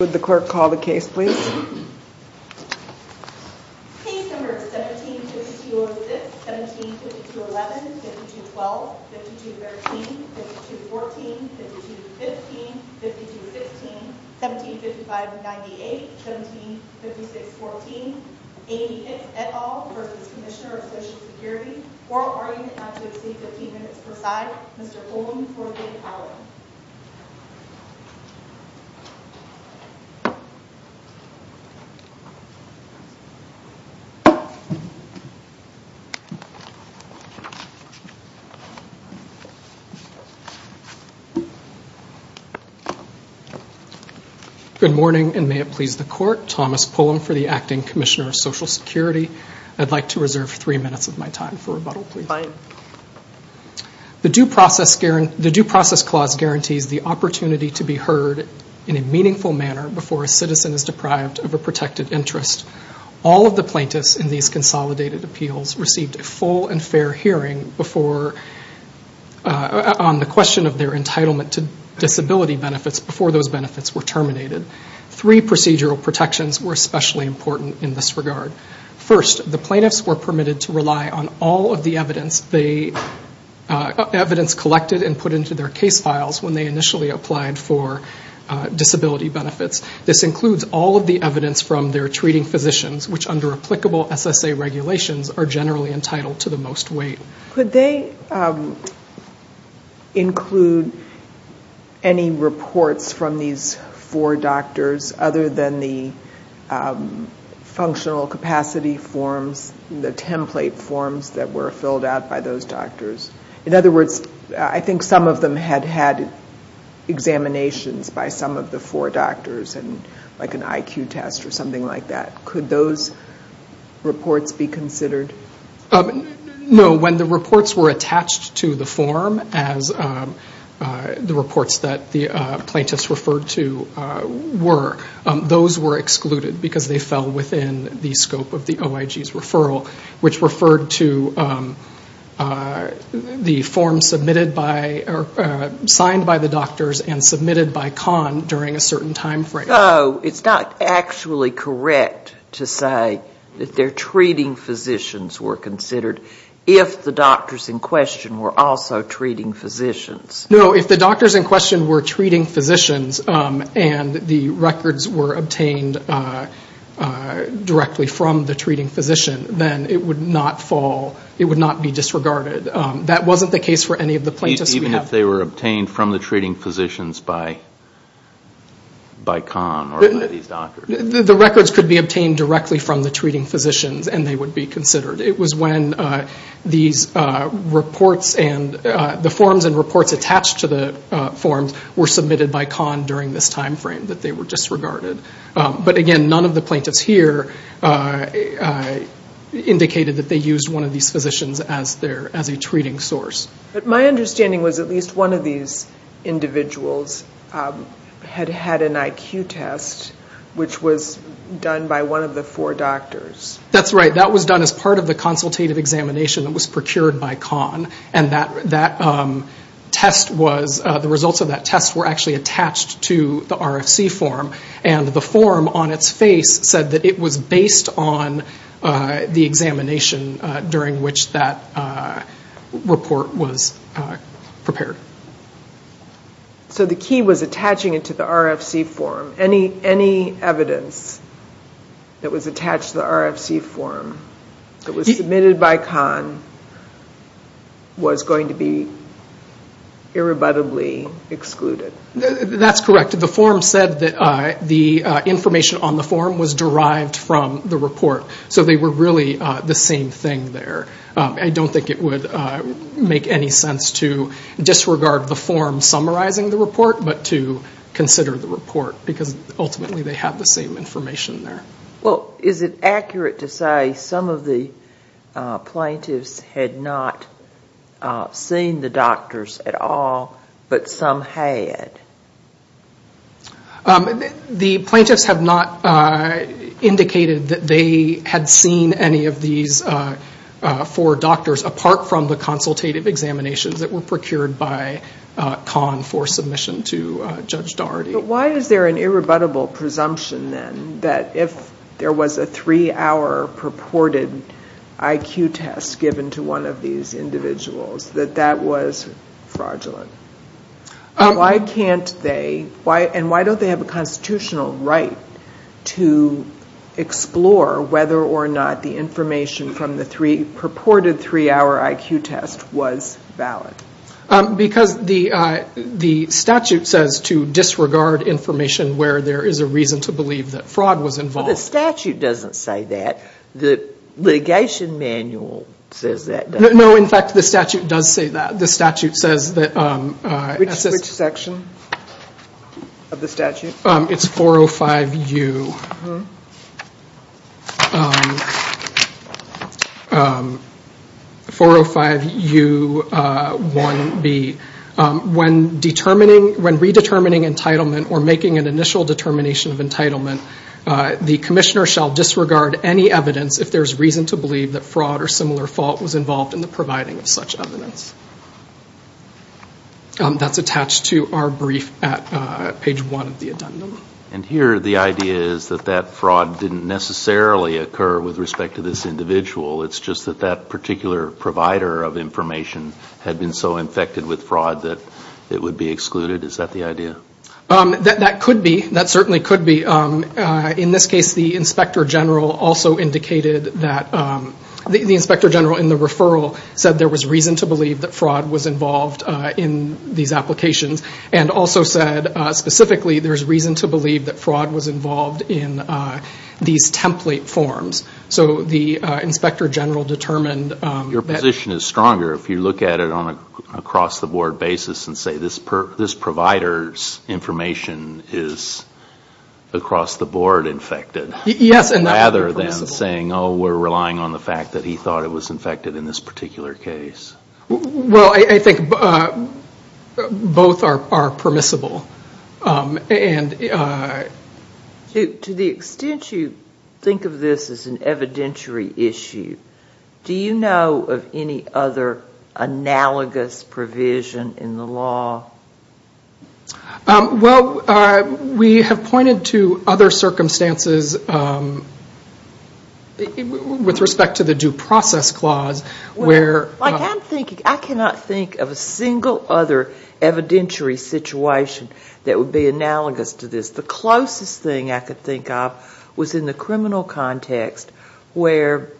Would the clerk call the case please? Case number 17-5206, 17-5211, 52-12, 52-13, 52-14, 52-15, 52-16, 17-5598, 17-5614 Amy Hicks, et al. v. Comm of Social Security Oral argument not to exceed 15 minutes per side Mr. Coleman for the following Good morning and may it please the court Thomas Pullen for the Acting Commissioner of Social Security I'd like to reserve three minutes of my time for rebuttal please Fine The Due Process Clause guarantees the opportunity to be heard in a meaningful manner before a citizen is deprived of a protected interest. All of the plaintiffs in these consolidated appeals received a full and fair hearing on the question of their entitlement to disability benefits before those benefits were terminated. Three procedural protections were especially important in this regard. First, the plaintiffs were permitted to rely on all of the evidence collected and put into their case files when they initially applied for disability benefits. This includes all of the evidence from their treating physicians, which under applicable SSA regulations are generally entitled to the most weight. Could they include any reports from these four doctors other than the functional capacity forms, the template forms that were filled out by those doctors? In other words, I think some of them had had examinations by some of the four doctors, like an IQ test or something like that. Could those reports be considered? No, when the reports were attached to the form as the reports that the plaintiffs referred to were, those were excluded because they fell within the scope of the OIG's referral, which referred to the form signed by the doctors and submitted by CON during a certain time frame. So it's not actually correct to say that their treating physicians were considered if the doctors in question were also treating physicians? No, if the doctors in question were treating physicians and the records were obtained directly from the treating physician, then it would not fall, it would not be disregarded. That wasn't the case for any of the plaintiffs. Even if they were obtained from the treating physicians by CON or by these doctors? The records could be obtained directly from the treating physicians and they would be considered. It was when these reports and the forms and reports attached to the forms were submitted by CON during this time frame that they were disregarded. But again, none of the plaintiffs here indicated that they used one of these physicians as a treating source. But my understanding was at least one of these individuals had had an IQ test, which was done by one of the four doctors. That's right. That was done as part of the consultative examination that was procured by CON. And the results of that test were actually attached to the RFC form. And the form on its face said that it was based on the examination during which that report was prepared. So the key was attaching it to the RFC form. Any evidence that was attached to the RFC form that was submitted by CON was going to be irrebuttably excluded. That's correct. The form said that the information on the form was derived from the report. So they were really the same thing there. I don't think it would make any sense to disregard the form summarizing the report, but to consider the report, because ultimately they have the same information there. Well, is it accurate to say some of the plaintiffs had not seen the doctors at all, but some had? The plaintiffs have not indicated that they had seen any of these four doctors, apart from the consultative examinations that were procured by CON for submission to Judge Daugherty. But why is there an irrebuttable presumption then that if there was a three-hour purported IQ test given to one of these individuals, that that was fraudulent? Why don't they have a constitutional right to explore whether or not the information from the purported three-hour IQ test was valid? Because the statute says to disregard information where there is a reason to believe that fraud was involved. The statute doesn't say that. The litigation manual says that. No, in fact, the statute does say that. The statute says that. Which section of the statute? It's 405U1B. When determining, when redetermining entitlement or making an initial determination of entitlement, the commissioner shall disregard any evidence if there is reason to believe that fraud or similar fault was involved in the providing of such evidence. That's attached to our brief at page one of the addendum. And here the idea is that that fraud didn't necessarily occur with respect to this individual. It's just that that particular provider of information had been so infected with fraud that it would be excluded. Is that the idea? That could be. That certainly could be. In this case, the inspector general also indicated that the inspector general in the referral said there was reason to believe that fraud was involved in these applications. And also said specifically there's reason to believe that fraud was involved in these template forms. So the inspector general determined that. The opposition is stronger if you look at it on an across-the-board basis and say this provider's information is across-the-board infected. Yes. Rather than saying, oh, we're relying on the fact that he thought it was infected in this particular case. Well, I think both are permissible. To the extent you think of this as an evidentiary issue, do you know of any other analogous provision in the law? Well, we have pointed to other circumstances with respect to the due process clause. I cannot think of a single other evidentiary situation that would be analogous to this. The closest thing I could think of was in the criminal context where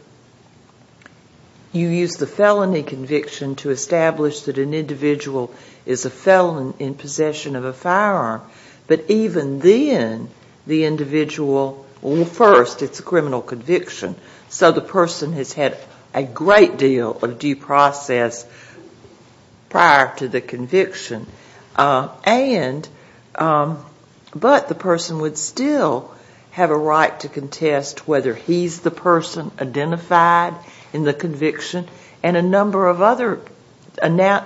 you use the felony conviction to establish that an individual is a felon in possession of a firearm. But even then, the individual, well, first it's a criminal conviction. So the person has had a great deal of due process prior to the conviction. But the person would still have a right to contest whether he's the person identified in the conviction and a number of other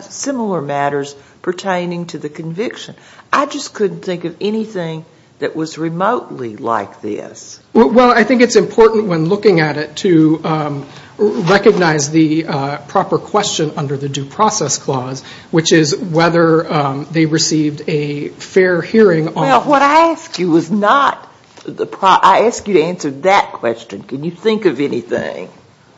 similar matters pertaining to the conviction. I just couldn't think of anything that was remotely like this. Well, I think it's important when looking at it to recognize the proper question under the due process clause, which is whether they received a fair hearing. Well, what I asked you was not the proper question. I asked you to answer that question. Can you think of anything?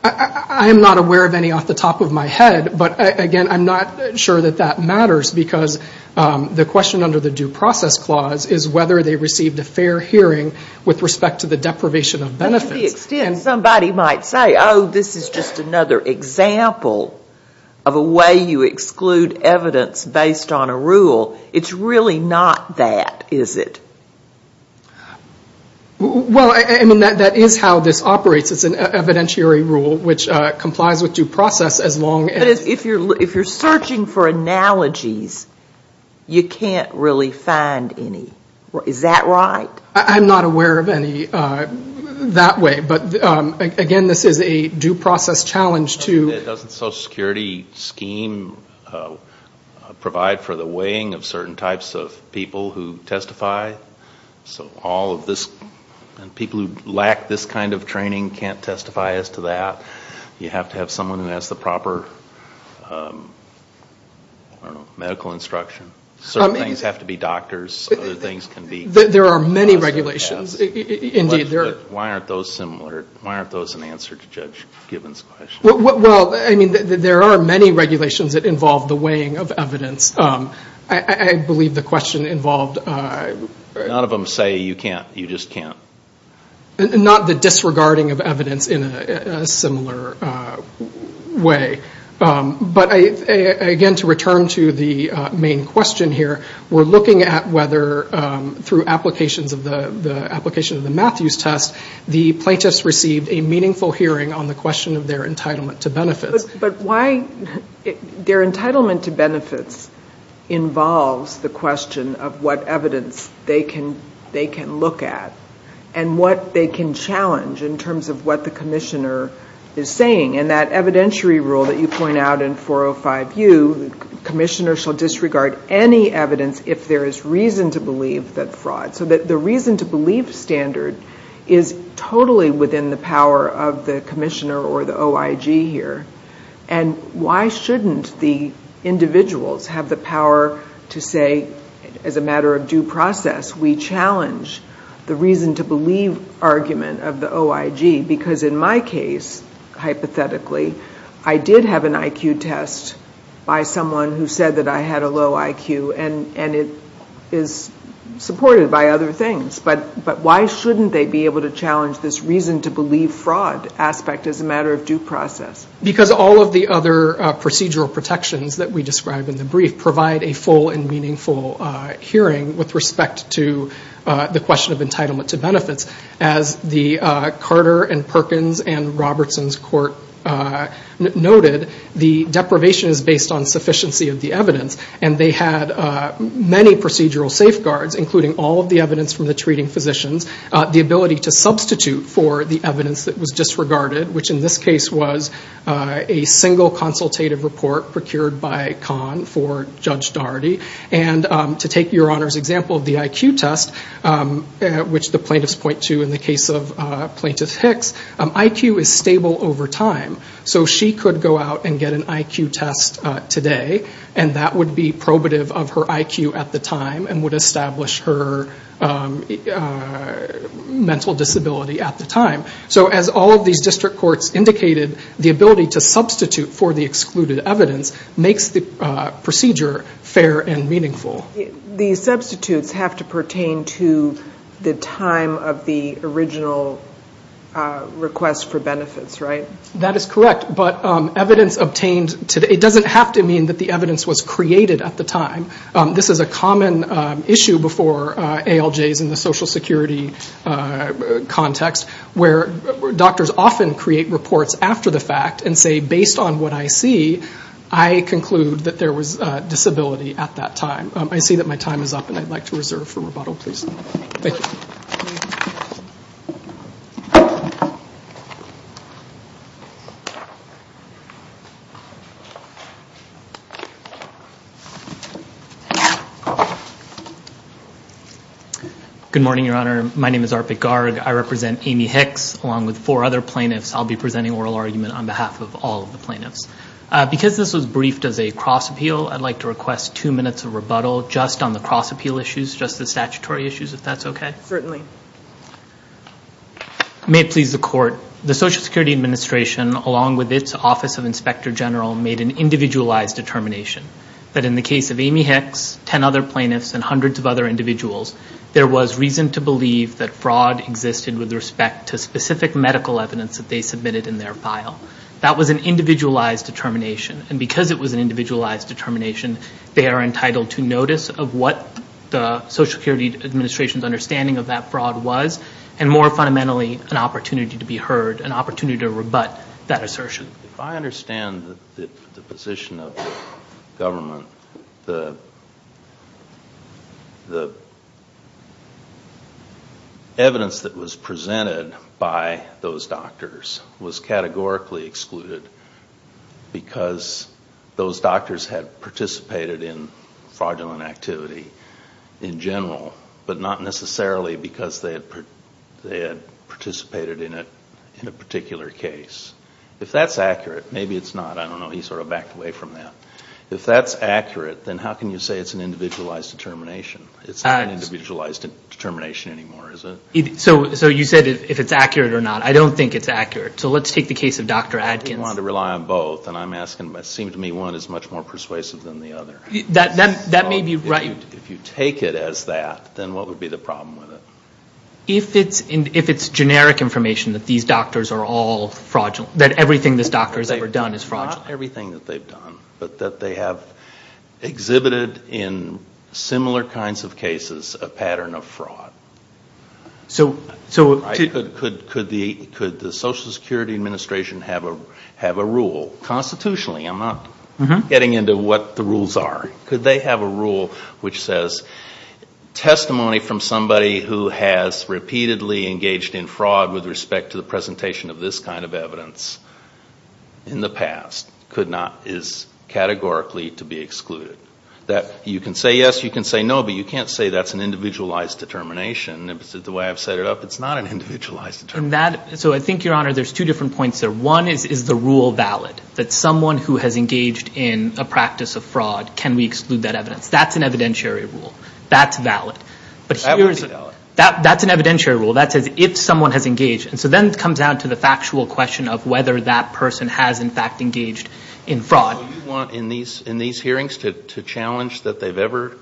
I am not aware of any off the top of my head. But, again, I'm not sure that that matters because the question under the due process clause is whether they received a fair hearing with respect to the deprivation of benefits. To the extent somebody might say, oh, this is just another example of a way you exclude evidence based on a rule. It's really not that, is it? Well, I mean, that is how this operates. It's an evidentiary rule which complies with due process as long as... But if you're searching for analogies, you can't really find any. Is that right? I'm not aware of any that way. But, again, this is a due process challenge to... Doesn't social security scheme provide for the weighing of certain types of people who testify? So all of this, and people who lack this kind of training can't testify as to that. You have to have someone who has the proper medical instruction. Certain things have to be doctors. There are many regulations, indeed. Why aren't those similar? Why aren't those an answer to Judge Gibbons' question? Well, I mean, there are many regulations that involve the weighing of evidence. I believe the question involved... None of them say you just can't. Not the disregarding of evidence in a similar way. But, again, to return to the main question here, we're looking at whether through applications of the Matthews test, the plaintiffs received a meaningful hearing on the question of their entitlement to benefits. But why... Their entitlement to benefits involves the question of what evidence they can look at and what they can challenge in terms of what the commissioner is saying. And that evidentiary rule that you point out in 405U, the commissioner shall disregard any evidence if there is reason to believe that fraud. So the reason-to-believe standard is totally within the power of the commissioner or the OIG here. And why shouldn't the individuals have the power to say, as a matter of due process, we challenge the reason-to-believe argument of the OIG? Because in my case, hypothetically, I did have an IQ test by someone who said that I had a low IQ, and it is supported by other things. But why shouldn't they be able to challenge this reason-to-believe fraud aspect as a matter of due process? Because all of the other procedural protections that we describe in the brief provide a full and meaningful hearing with respect to the question of entitlement to benefits. As the Carter and Perkins and Robertson's court noted, the deprivation is based on sufficiency of the evidence. And they had many procedural safeguards, including all of the evidence from the treating physicians, the ability to substitute for the evidence that was disregarded, which in this case was a single consultative report procured by Kahn for Judge Daugherty. And to take Your Honor's example of the IQ test, which the plaintiffs point to in the case of Plaintiff Hicks, IQ is stable over time. So she could go out and get an IQ test today, and that would be probative of her IQ at the time and would establish her mental disability at the time. So as all of these district courts indicated, the ability to substitute for the excluded evidence makes the procedure fair and meaningful. The substitutes have to pertain to the time of the original request for benefits, right? That is correct. But evidence obtained today doesn't have to mean that the evidence was created at the time. This is a common issue before ALJs in the Social Security context, where doctors often create reports after the fact and say, based on what I see, I conclude that there was a disability at that time. I see that my time is up, and I'd like to reserve for rebuttal, please. Thank you. Good morning, Your Honor. My name is Arpit Garg. I represent Amy Hicks along with four other plaintiffs. I'll be presenting oral argument on behalf of all of the plaintiffs. Because this was briefed as a cross-appeal, I'd like to request two minutes of rebuttal just on the cross-appeal issues, just the statutory issues, if that's okay. Certainly. May it please the Court. The Social Security Administration, along with its Office of Inspector General, made an individualized determination that in the case of Amy Hicks, 10 other plaintiffs, and hundreds of other individuals, there was reason to believe that fraud existed with respect to specific medical evidence that they submitted in their file. That was an individualized determination. And because it was an individualized determination, they are entitled to notice of what the Social Security Administration's understanding of that fraud was, and more fundamentally, an opportunity to be heard, an opportunity to rebut that assertion. If I understand the position of the government, the evidence that was presented by those doctors was categorically excluded because those doctors had participated in fraudulent activity in general, but not necessarily because they had participated in a particular case. If that's accurate, maybe it's not. I don't know. He sort of backed away from that. If that's accurate, then how can you say it's an individualized determination? It's not an individualized determination anymore, is it? So you said if it's accurate or not. I don't think it's accurate. So let's take the case of Dr. Adkins. You want to rely on both. And I'm asking, it seems to me one is much more persuasive than the other. That may be right. If you take it as that, then what would be the problem with it? If it's generic information that these doctors are all fraudulent, that everything this doctor has ever done is fraudulent. Not everything that they've done, but that they have exhibited in similar kinds of cases a pattern of fraud. Could the Social Security Administration have a rule constitutionally? I'm not getting into what the rules are. Could they have a rule which says, testimony from somebody who has repeatedly engaged in fraud with respect to the presentation of this kind of evidence in the past is categorically to be excluded. You can say yes, you can say no, but you can't say that's an individualized determination. The way I've set it up, it's not an individualized determination. I think, Your Honor, there's two different points there. One is, is the rule valid? That someone who has engaged in a practice of fraud, can we exclude that evidence? That's an evidentiary rule. That's valid. That would be valid. That's an evidentiary rule. That says if someone has engaged. Then it comes down to the factual question of whether that person has, in fact, engaged in fraud. Do you want, in these hearings, to challenge that they've ever?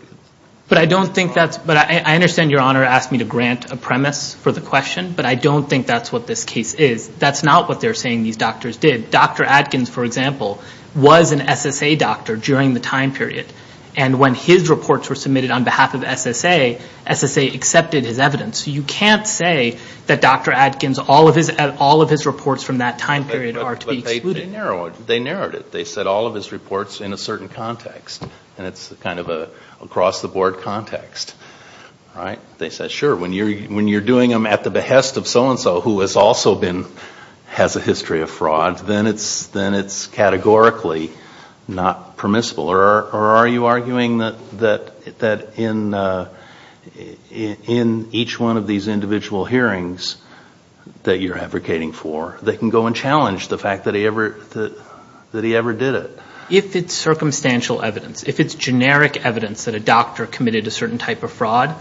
I understand Your Honor asked me to grant a premise for the question, but I don't think that's what this case is. That's not what they're saying these doctors did. Dr. Adkins, for example, was an SSA doctor during the time period, and when his reports were submitted on behalf of SSA, SSA accepted his evidence. You can't say that Dr. Adkins, all of his reports from that time period, are to be excluded. They narrowed it. They said all of his reports in a certain context, and it's kind of an across-the-board context. They said, sure, when you're doing them at the behest of so-and-so, who has also been, has a history of fraud, then it's categorically not permissible. Or are you arguing that in each one of these individual hearings that you're advocating for, they can go and challenge the fact that he ever did it? If it's circumstantial evidence, if it's generic evidence that a doctor committed a certain type of fraud,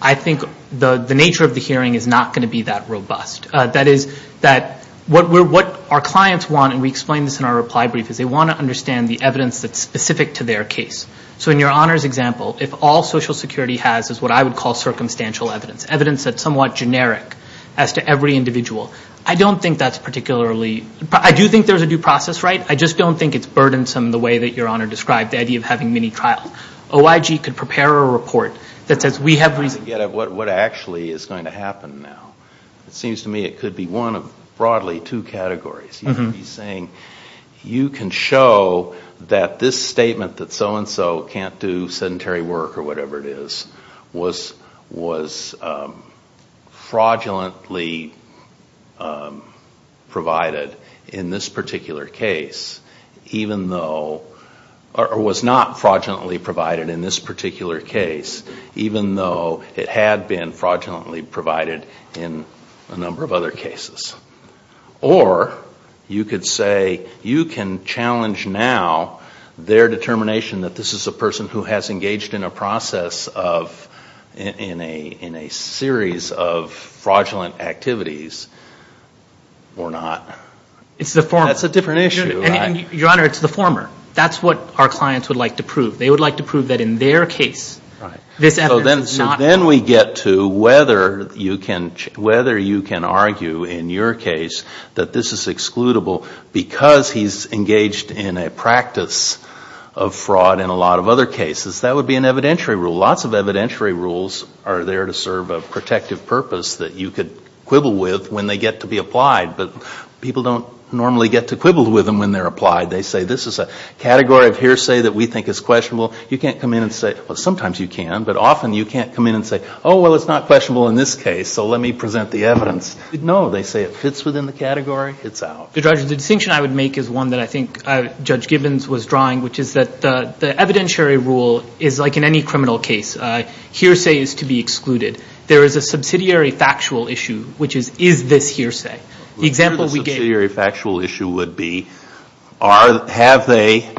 I think the nature of the hearing is not going to be that robust. That is that what our clients want, and we explain this in our reply brief, is they want to understand the evidence that's specific to their case. So in your Honor's example, if all Social Security has is what I would call circumstantial evidence, evidence that's somewhat generic as to every individual, I don't think that's particularly, I do think there's a due process, right? I just don't think it's burdensome the way that your Honor described, the idea of having many trials. OIG could prepare a report that says, we have reason to get at what actually is going to happen now. It seems to me it could be one of, broadly, two categories. You could be saying, you can show that this statement that so-and-so can't do sedentary work or whatever it is, was fraudulently provided in this particular case, even though, or was not fraudulently provided in this particular case, even though it had been fraudulently provided in a number of other cases. Or, you could say, you can challenge now their determination that this is a person who has engaged in a process of, in a series of fraudulent activities, or not. It's the former. That's a different issue. Your Honor, it's the former. That's what our clients would like to prove. They would like to prove that in their case, this effort is not. Then we get to whether you can argue, in your case, that this is excludable because he's engaged in a practice of fraud in a lot of other cases. That would be an evidentiary rule. Lots of evidentiary rules are there to serve a protective purpose that you could quibble with when they get to be applied, but people don't normally get to quibble with them when they're applied. They say, this is a category of hearsay that we think is questionable. You can't come in and say, well, sometimes you can, but often you can't come in and say, oh, well, it's not questionable in this case, so let me present the evidence. No. They say it fits within the category. It's out. Your Honor, the distinction I would make is one that I think Judge Gibbons was drawing, which is that the evidentiary rule is like in any criminal case. Hearsay is to be excluded. There is a subsidiary factual issue, which is, is this hearsay? The example we gave- The subsidiary factual issue would be, have they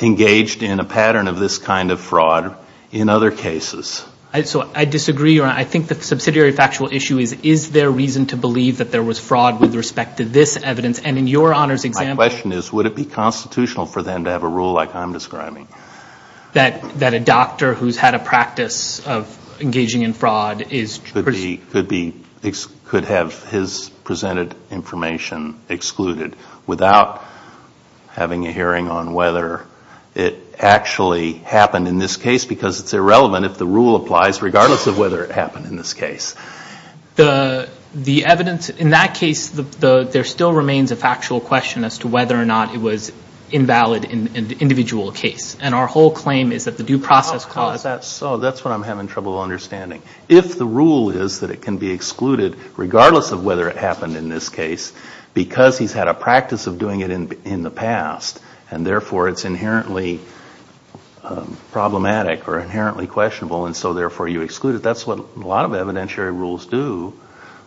engaged in a pattern of this kind of fraud in other cases? I disagree, Your Honor. I think the subsidiary factual issue is, is there reason to believe that there was fraud with respect to this evidence? And in your Honor's example- My question is, would it be constitutional for them to have a rule like I'm describing? That a doctor who's had a practice of engaging in fraud is- Could have his presented information excluded without having a hearing on whether it actually happened in this case, because it's irrelevant if the rule applies, regardless of whether it happened in this case. The evidence in that case, there still remains a factual question as to whether or not it was invalid in the individual case, and our whole claim is that the due process- That's what I'm having trouble understanding. If the rule is that it can be excluded, regardless of whether it happened in this case, because he's had a practice of doing it in the past, and therefore it's inherently problematic or inherently questionable, and so therefore you exclude it, that's what a lot of evidentiary rules do.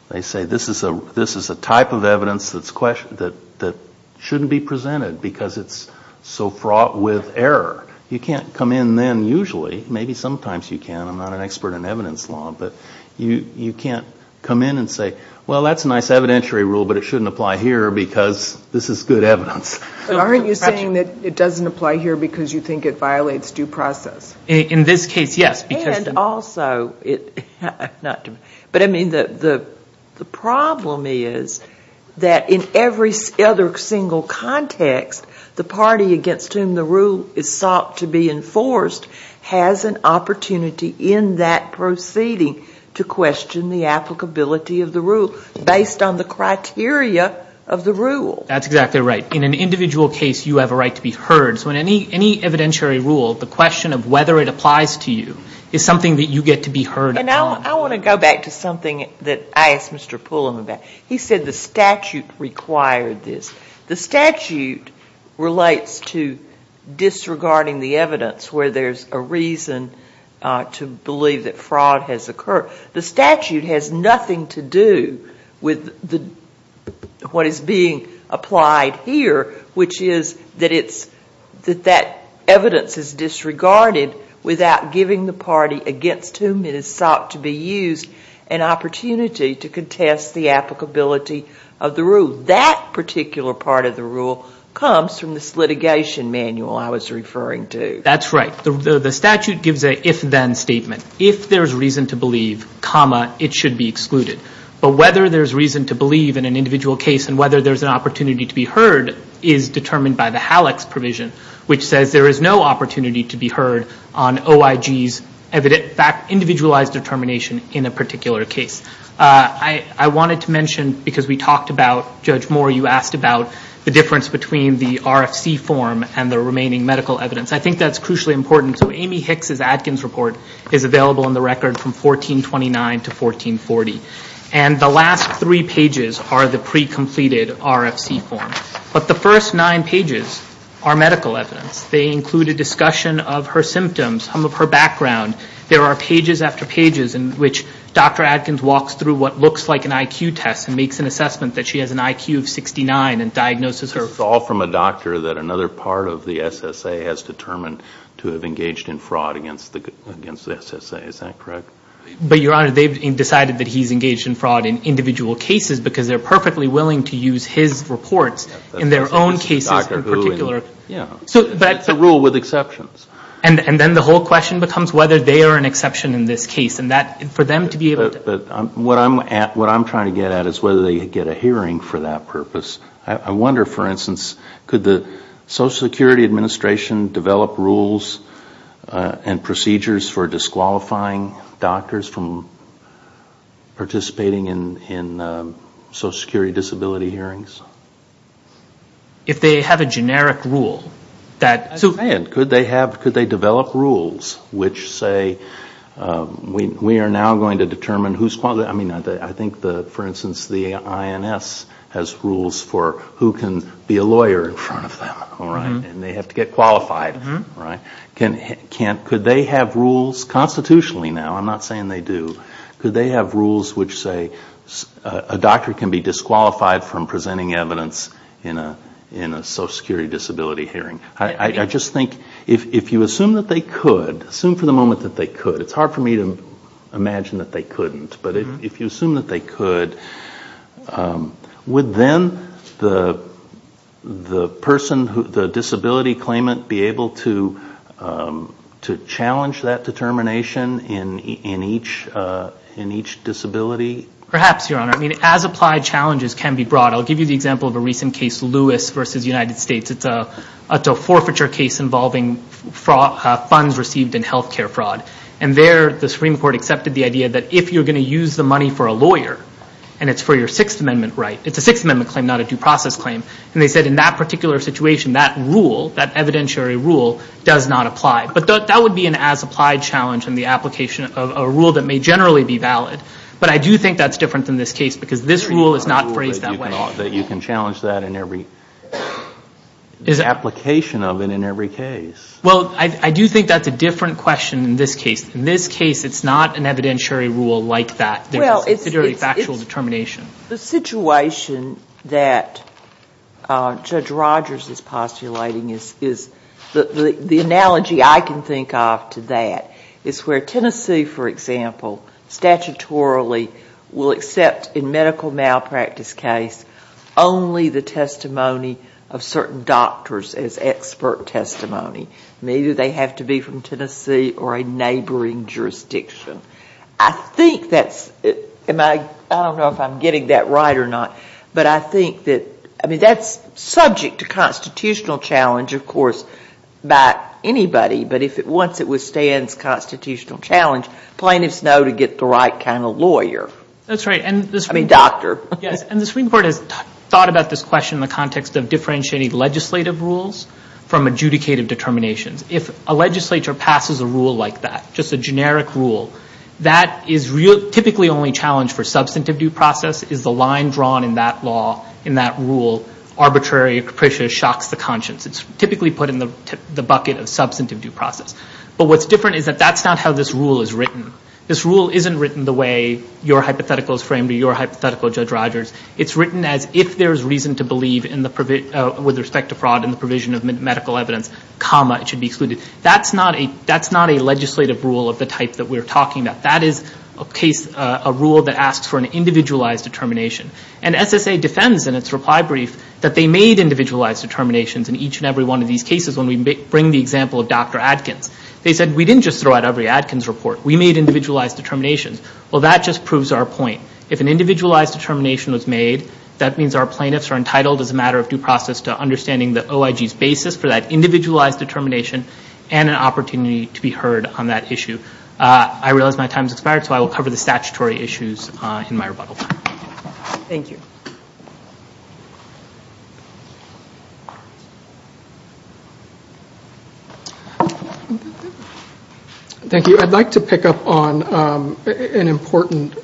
They say this is a type of evidence that shouldn't be presented, because it's so fraught with error. You can't come in then usually. Maybe sometimes you can. I'm not an expert in evidence law, but you can't come in and say, well, that's a nice evidentiary rule, but it shouldn't apply here because this is good evidence. Aren't you saying that it doesn't apply here because you think it violates due process? In this case, yes, because- And also it- But I mean the problem is that in every other single context, the party against whom the rule is sought to be enforced has an opportunity in that proceeding to question the applicability of the rule based on the criteria of the rule. That's exactly right. In an individual case, you have a right to be heard. So in any evidentiary rule, the question of whether it applies to you is something that you get to be heard on. And I want to go back to something that I asked Mr. Pullum about. He said the statute required this. The statute relates to disregarding the evidence where there's a reason to believe that fraud has occurred. The statute has nothing to do with what is being applied here, which is that that evidence is disregarded without giving the party against whom it is sought to be used an opportunity to contest the applicability of the rule. So that particular part of the rule comes from this litigation manual I was referring to. That's right. The statute gives an if-then statement. If there's reason to believe, it should be excluded. But whether there's reason to believe in an individual case and whether there's an opportunity to be heard is determined by the HALEX provision, which says there is no opportunity to be heard on OIG's individualized determination in a particular case. I wanted to mention, because we talked about, Judge Moore, you asked about the difference between the RFC form and the remaining medical evidence. I think that's crucially important. So Amy Hicks' Atkins report is available on the record from 1429 to 1440. And the last three pages are the pre-completed RFC form. But the first nine pages are medical evidence. They include a discussion of her symptoms, some of her background. There are pages after pages in which Dr. Atkins walks through what looks like an IQ test and makes an assessment that she has an IQ of 69 and diagnoses her. It's all from a doctor that another part of the SSA has determined to have engaged in fraud against the SSA. Is that correct? But, Your Honor, they've decided that he's engaged in fraud in individual cases because they're perfectly willing to use his reports in their own cases in particular. Yeah. It's a rule with exceptions. And then the whole question becomes whether they are an exception in this case. And for them to be able to... What I'm trying to get at is whether they get a hearing for that purpose. I wonder, for instance, could the Social Security Administration develop rules and procedures for disqualifying doctors from participating in Social Security disability hearings? If they have a generic rule. I understand. Could they develop rules which say we are now going to determine who's qualified? I mean, I think, for instance, the INS has rules for who can be a lawyer in front of them. And they have to get qualified. Could they have rules constitutionally now? I'm not saying they do. Could they have rules which say a doctor can be disqualified from presenting evidence in a Social Security disability hearing? I just think if you assume that they could, assume for the moment that they could. It's hard for me to imagine that they couldn't. But if you assume that they could, would then the person, the disability claimant, be able to challenge that determination in each disability? Perhaps, Your Honor. I mean, as applied challenges can be brought. I'll give you the example of a recent case, Lewis v. United States. It's a forfeiture case involving funds received in health care fraud. And there, the Supreme Court accepted the idea that if you're going to use the money for a lawyer, and it's for your Sixth Amendment right, it's a Sixth Amendment claim, not a due process claim. And they said in that particular situation, that rule, that evidentiary rule, does not apply. But that would be an as applied challenge in the application of a rule that may generally be valid. But I do think that's different than this case, because this rule is not phrased that way. That you can challenge that in every, the application of it in every case. Well, I do think that's a different question in this case. In this case, it's not an evidentiary rule like that. It's a very factual determination. The situation that Judge Rogers is postulating is, the analogy I can think of to that, is where Tennessee, for example, statutorily will accept, in medical malpractice case, only the testimony of certain doctors as expert testimony. Maybe they have to be from Tennessee or a neighboring jurisdiction. I think that's, I don't know if I'm getting that right or not, but I think that, I mean, that's subject to constitutional challenge, of course, by anybody. But once it withstands constitutional challenge, plaintiffs know to get the right kind of lawyer. That's right. I mean, doctor. Yes. And the Supreme Court has thought about this question in the context of differentiating legislative rules from adjudicative determinations. If a legislature passes a rule like that, just a generic rule, that is typically only challenged for substantive due process, is the line drawn in that law, in that rule, arbitrary or capricious, shocks the conscience. It's typically put in the bucket of substantive due process. But what's different is that that's not how this rule is written. This rule isn't written the way your hypothetical is framed or your hypothetical, Judge Rogers. It's written as if there's reason to believe with respect to fraud in the provision of medical evidence, comma, it should be excluded. That's not a legislative rule of the type that we're talking about. That is a case, a rule that asks for an individualized determination. And SSA defends in its reply brief that they made individualized determinations in each and every one of these cases when we bring the example of Dr. Adkins. They said, we didn't just throw out every Adkins report. We made individualized determinations. Well, that just proves our point. If an individualized determination was made, that means our plaintiffs are entitled as a matter of due process to understanding the OIG's basis for that individualized determination and an opportunity to be heard on that issue. I realize my time has expired, so I will cover the statutory issues in my rebuttal. Thank you. Thank you. I'd like to pick up on an important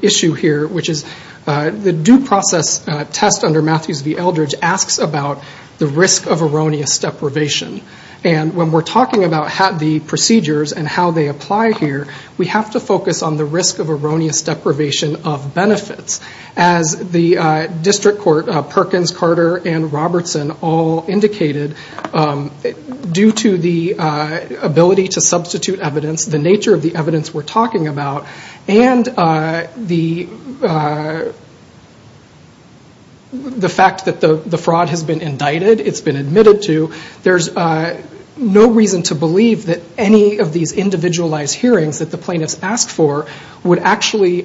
issue here, which is the due process test under Matthews v. Eldridge asks about the risk of erroneous deprivation. And when we're talking about the procedures and how they apply here, we have to focus on the risk of erroneous deprivation of benefits. As the district court, Perkins, Carter, and Robertson all indicated, due to the ability to substitute evidence, the nature of the evidence we're talking about, and the fact that the fraud has been indicted, it's been admitted to, there's no reason to believe that any of these individualized hearings that the plaintiffs asked for would actually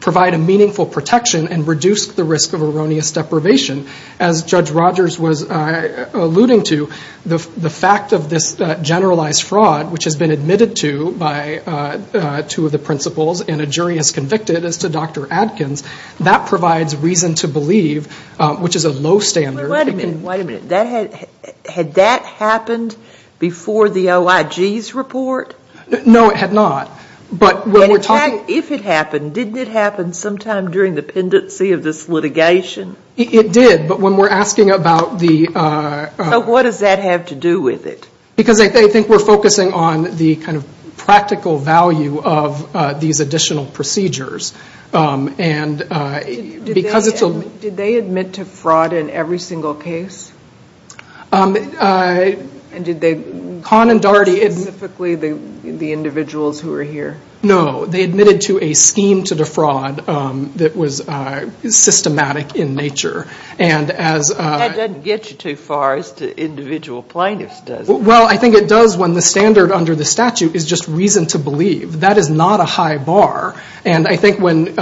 provide a meaningful protection and reduce the risk of erroneous deprivation. As Judge Rogers was alluding to, the fact of this generalized fraud, which has been admitted to by two of the principals and a jury has convicted as to Dr. Adkins, that provides reason to believe, which is a low standard. Wait a minute. Wait a minute. Had that happened before the OIG's report? No, it had not. If it happened, didn't it happen sometime during the pendency of this litigation? It did, but when we're asking about the ‑‑ So what does that have to do with it? Because I think we're focusing on the kind of practical value of these additional procedures. Did they admit to fraud in every single case? Con and Darty. Specifically the individuals who were here? No, they admitted to a scheme to defraud that was systematic in nature. That doesn't get you too far as to individual plaintiffs, does it? Well, I think it does when the standard under the statute is just reason to believe. That is not a high bar, and I think when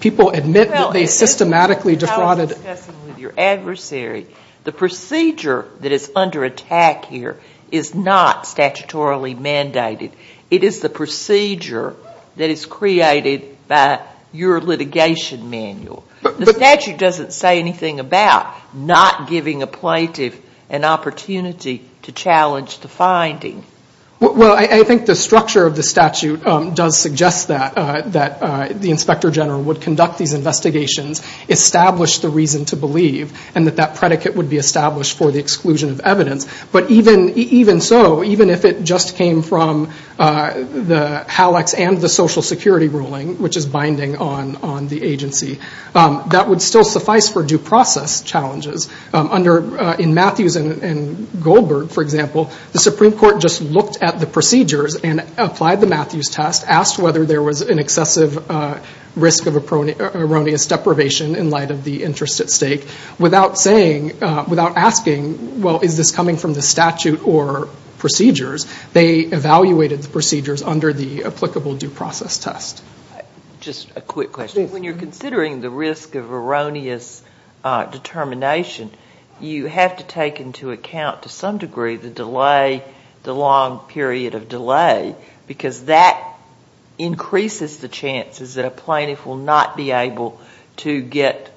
people admit that they systematically defrauded ‑‑ I was discussing with your adversary, the procedure that is under attack here is not statutorily mandated. It is the procedure that is created by your litigation manual. The statute doesn't say anything about not giving a plaintiff an opportunity to challenge the finding. Well, I think the structure of the statute does suggest that. That the inspector general would conduct these investigations, establish the reason to believe, and that that predicate would be established for the exclusion of evidence. But even so, even if it just came from the HALEX and the Social Security ruling, which is binding on the agency, that would still suffice for due process challenges. In Matthews and Goldberg, for example, the Supreme Court just looked at the procedures and applied the Matthews test, asked whether there was an excessive risk of erroneous deprivation in light of the interest at stake. Without asking, well, is this coming from the statute or procedures, they evaluated the procedures under the applicable due process test. Just a quick question. When you're considering the risk of erroneous determination, you have to take into account to some degree the delay, the long period of delay, because that increases the chances that a plaintiff will not be able to get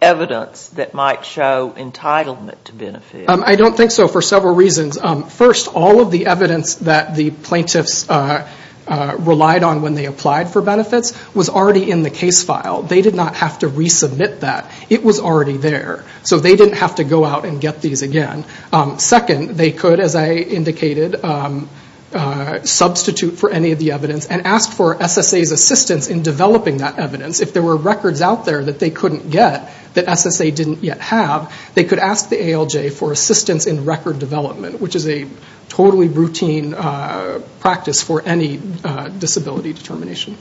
evidence that might show entitlement to benefit. I don't think so for several reasons. First, all of the evidence that the plaintiffs relied on when they applied for benefits was already in the case file. They did not have to resubmit that. It was already there. So they didn't have to go out and get these again. Second, they could, as I indicated, substitute for any of the evidence and ask for SSA's assistance in developing that evidence. If there were records out there that they couldn't get, that SSA didn't yet have, they could ask the ALJ for assistance in record development, which is a totally routine practice for any disability determination.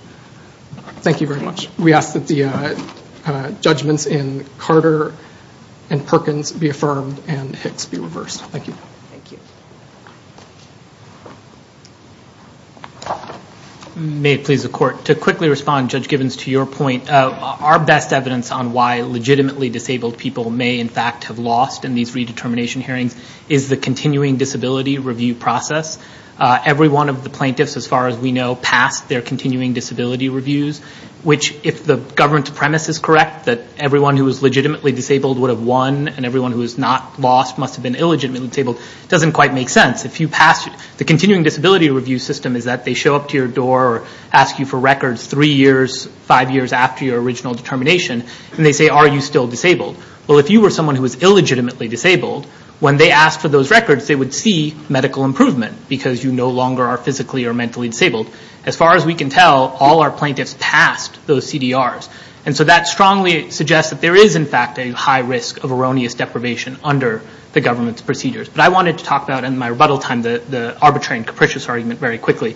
Thank you very much. We ask that the judgments in Carter and Perkins be affirmed and Hicks be reversed. Thank you. May it please the Court. To quickly respond, Judge Givens, to your point, our best evidence on why legitimately disabled people may in fact have lost in these redetermination hearings is the continuing disability review process. Every one of the plaintiffs, as far as we know, passed their continuing disability reviews, which if the government's premise is correct, that everyone who was legitimately disabled would have won and everyone who was not lost must have been illegitimately disabled, doesn't quite make sense. The continuing disability review system is that they show up to your door or ask you for records three years, five years after your original determination, and they say, are you still disabled? Well, if you were someone who was illegitimately disabled, when they asked for those records, they would see medical improvement because you no longer are physically or mentally disabled. As far as we can tell, all our plaintiffs passed those CDRs. And so that strongly suggests that there is in fact a high risk of erroneous deprivation under the government's procedures. But I wanted to talk about in my rebuttal time the arbitrary and capricious argument very quickly.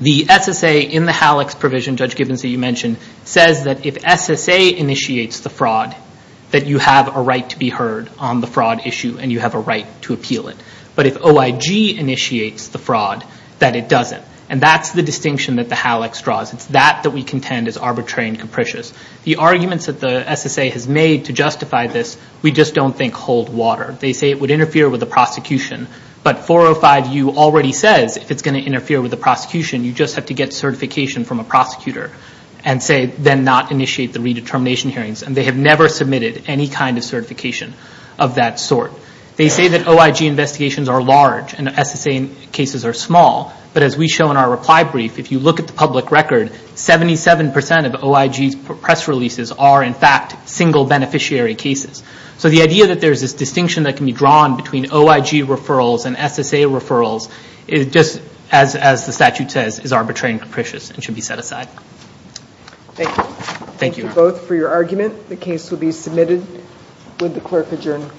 The SSA in the HALEX provision, Judge Gibbons, that you mentioned, says that if SSA initiates the fraud, that you have a right to be heard on the fraud issue and you have a right to appeal it. But if OIG initiates the fraud, that it doesn't. And that's the distinction that the HALEX draws. It's that that we contend is arbitrary and capricious. The arguments that the SSA has made to justify this, we just don't think hold water. They say it would interfere with the prosecution, but 405U already says if it's going to interfere with the prosecution, you just have to get certification from a prosecutor and say then not initiate the redetermination hearings. And they have never submitted any kind of certification of that sort. They say that OIG investigations are large and SSA cases are small. But as we show in our reply brief, if you look at the public record, 77% of OIG's press releases are in fact single beneficiary cases. So the idea that there's this distinction that can be drawn between OIG referrals and SSA referrals, just as the statute says, is arbitrary and capricious and should be set aside. Thank you. Thank you. Thank you both for your argument. The case will be submitted with the clerk adjourned.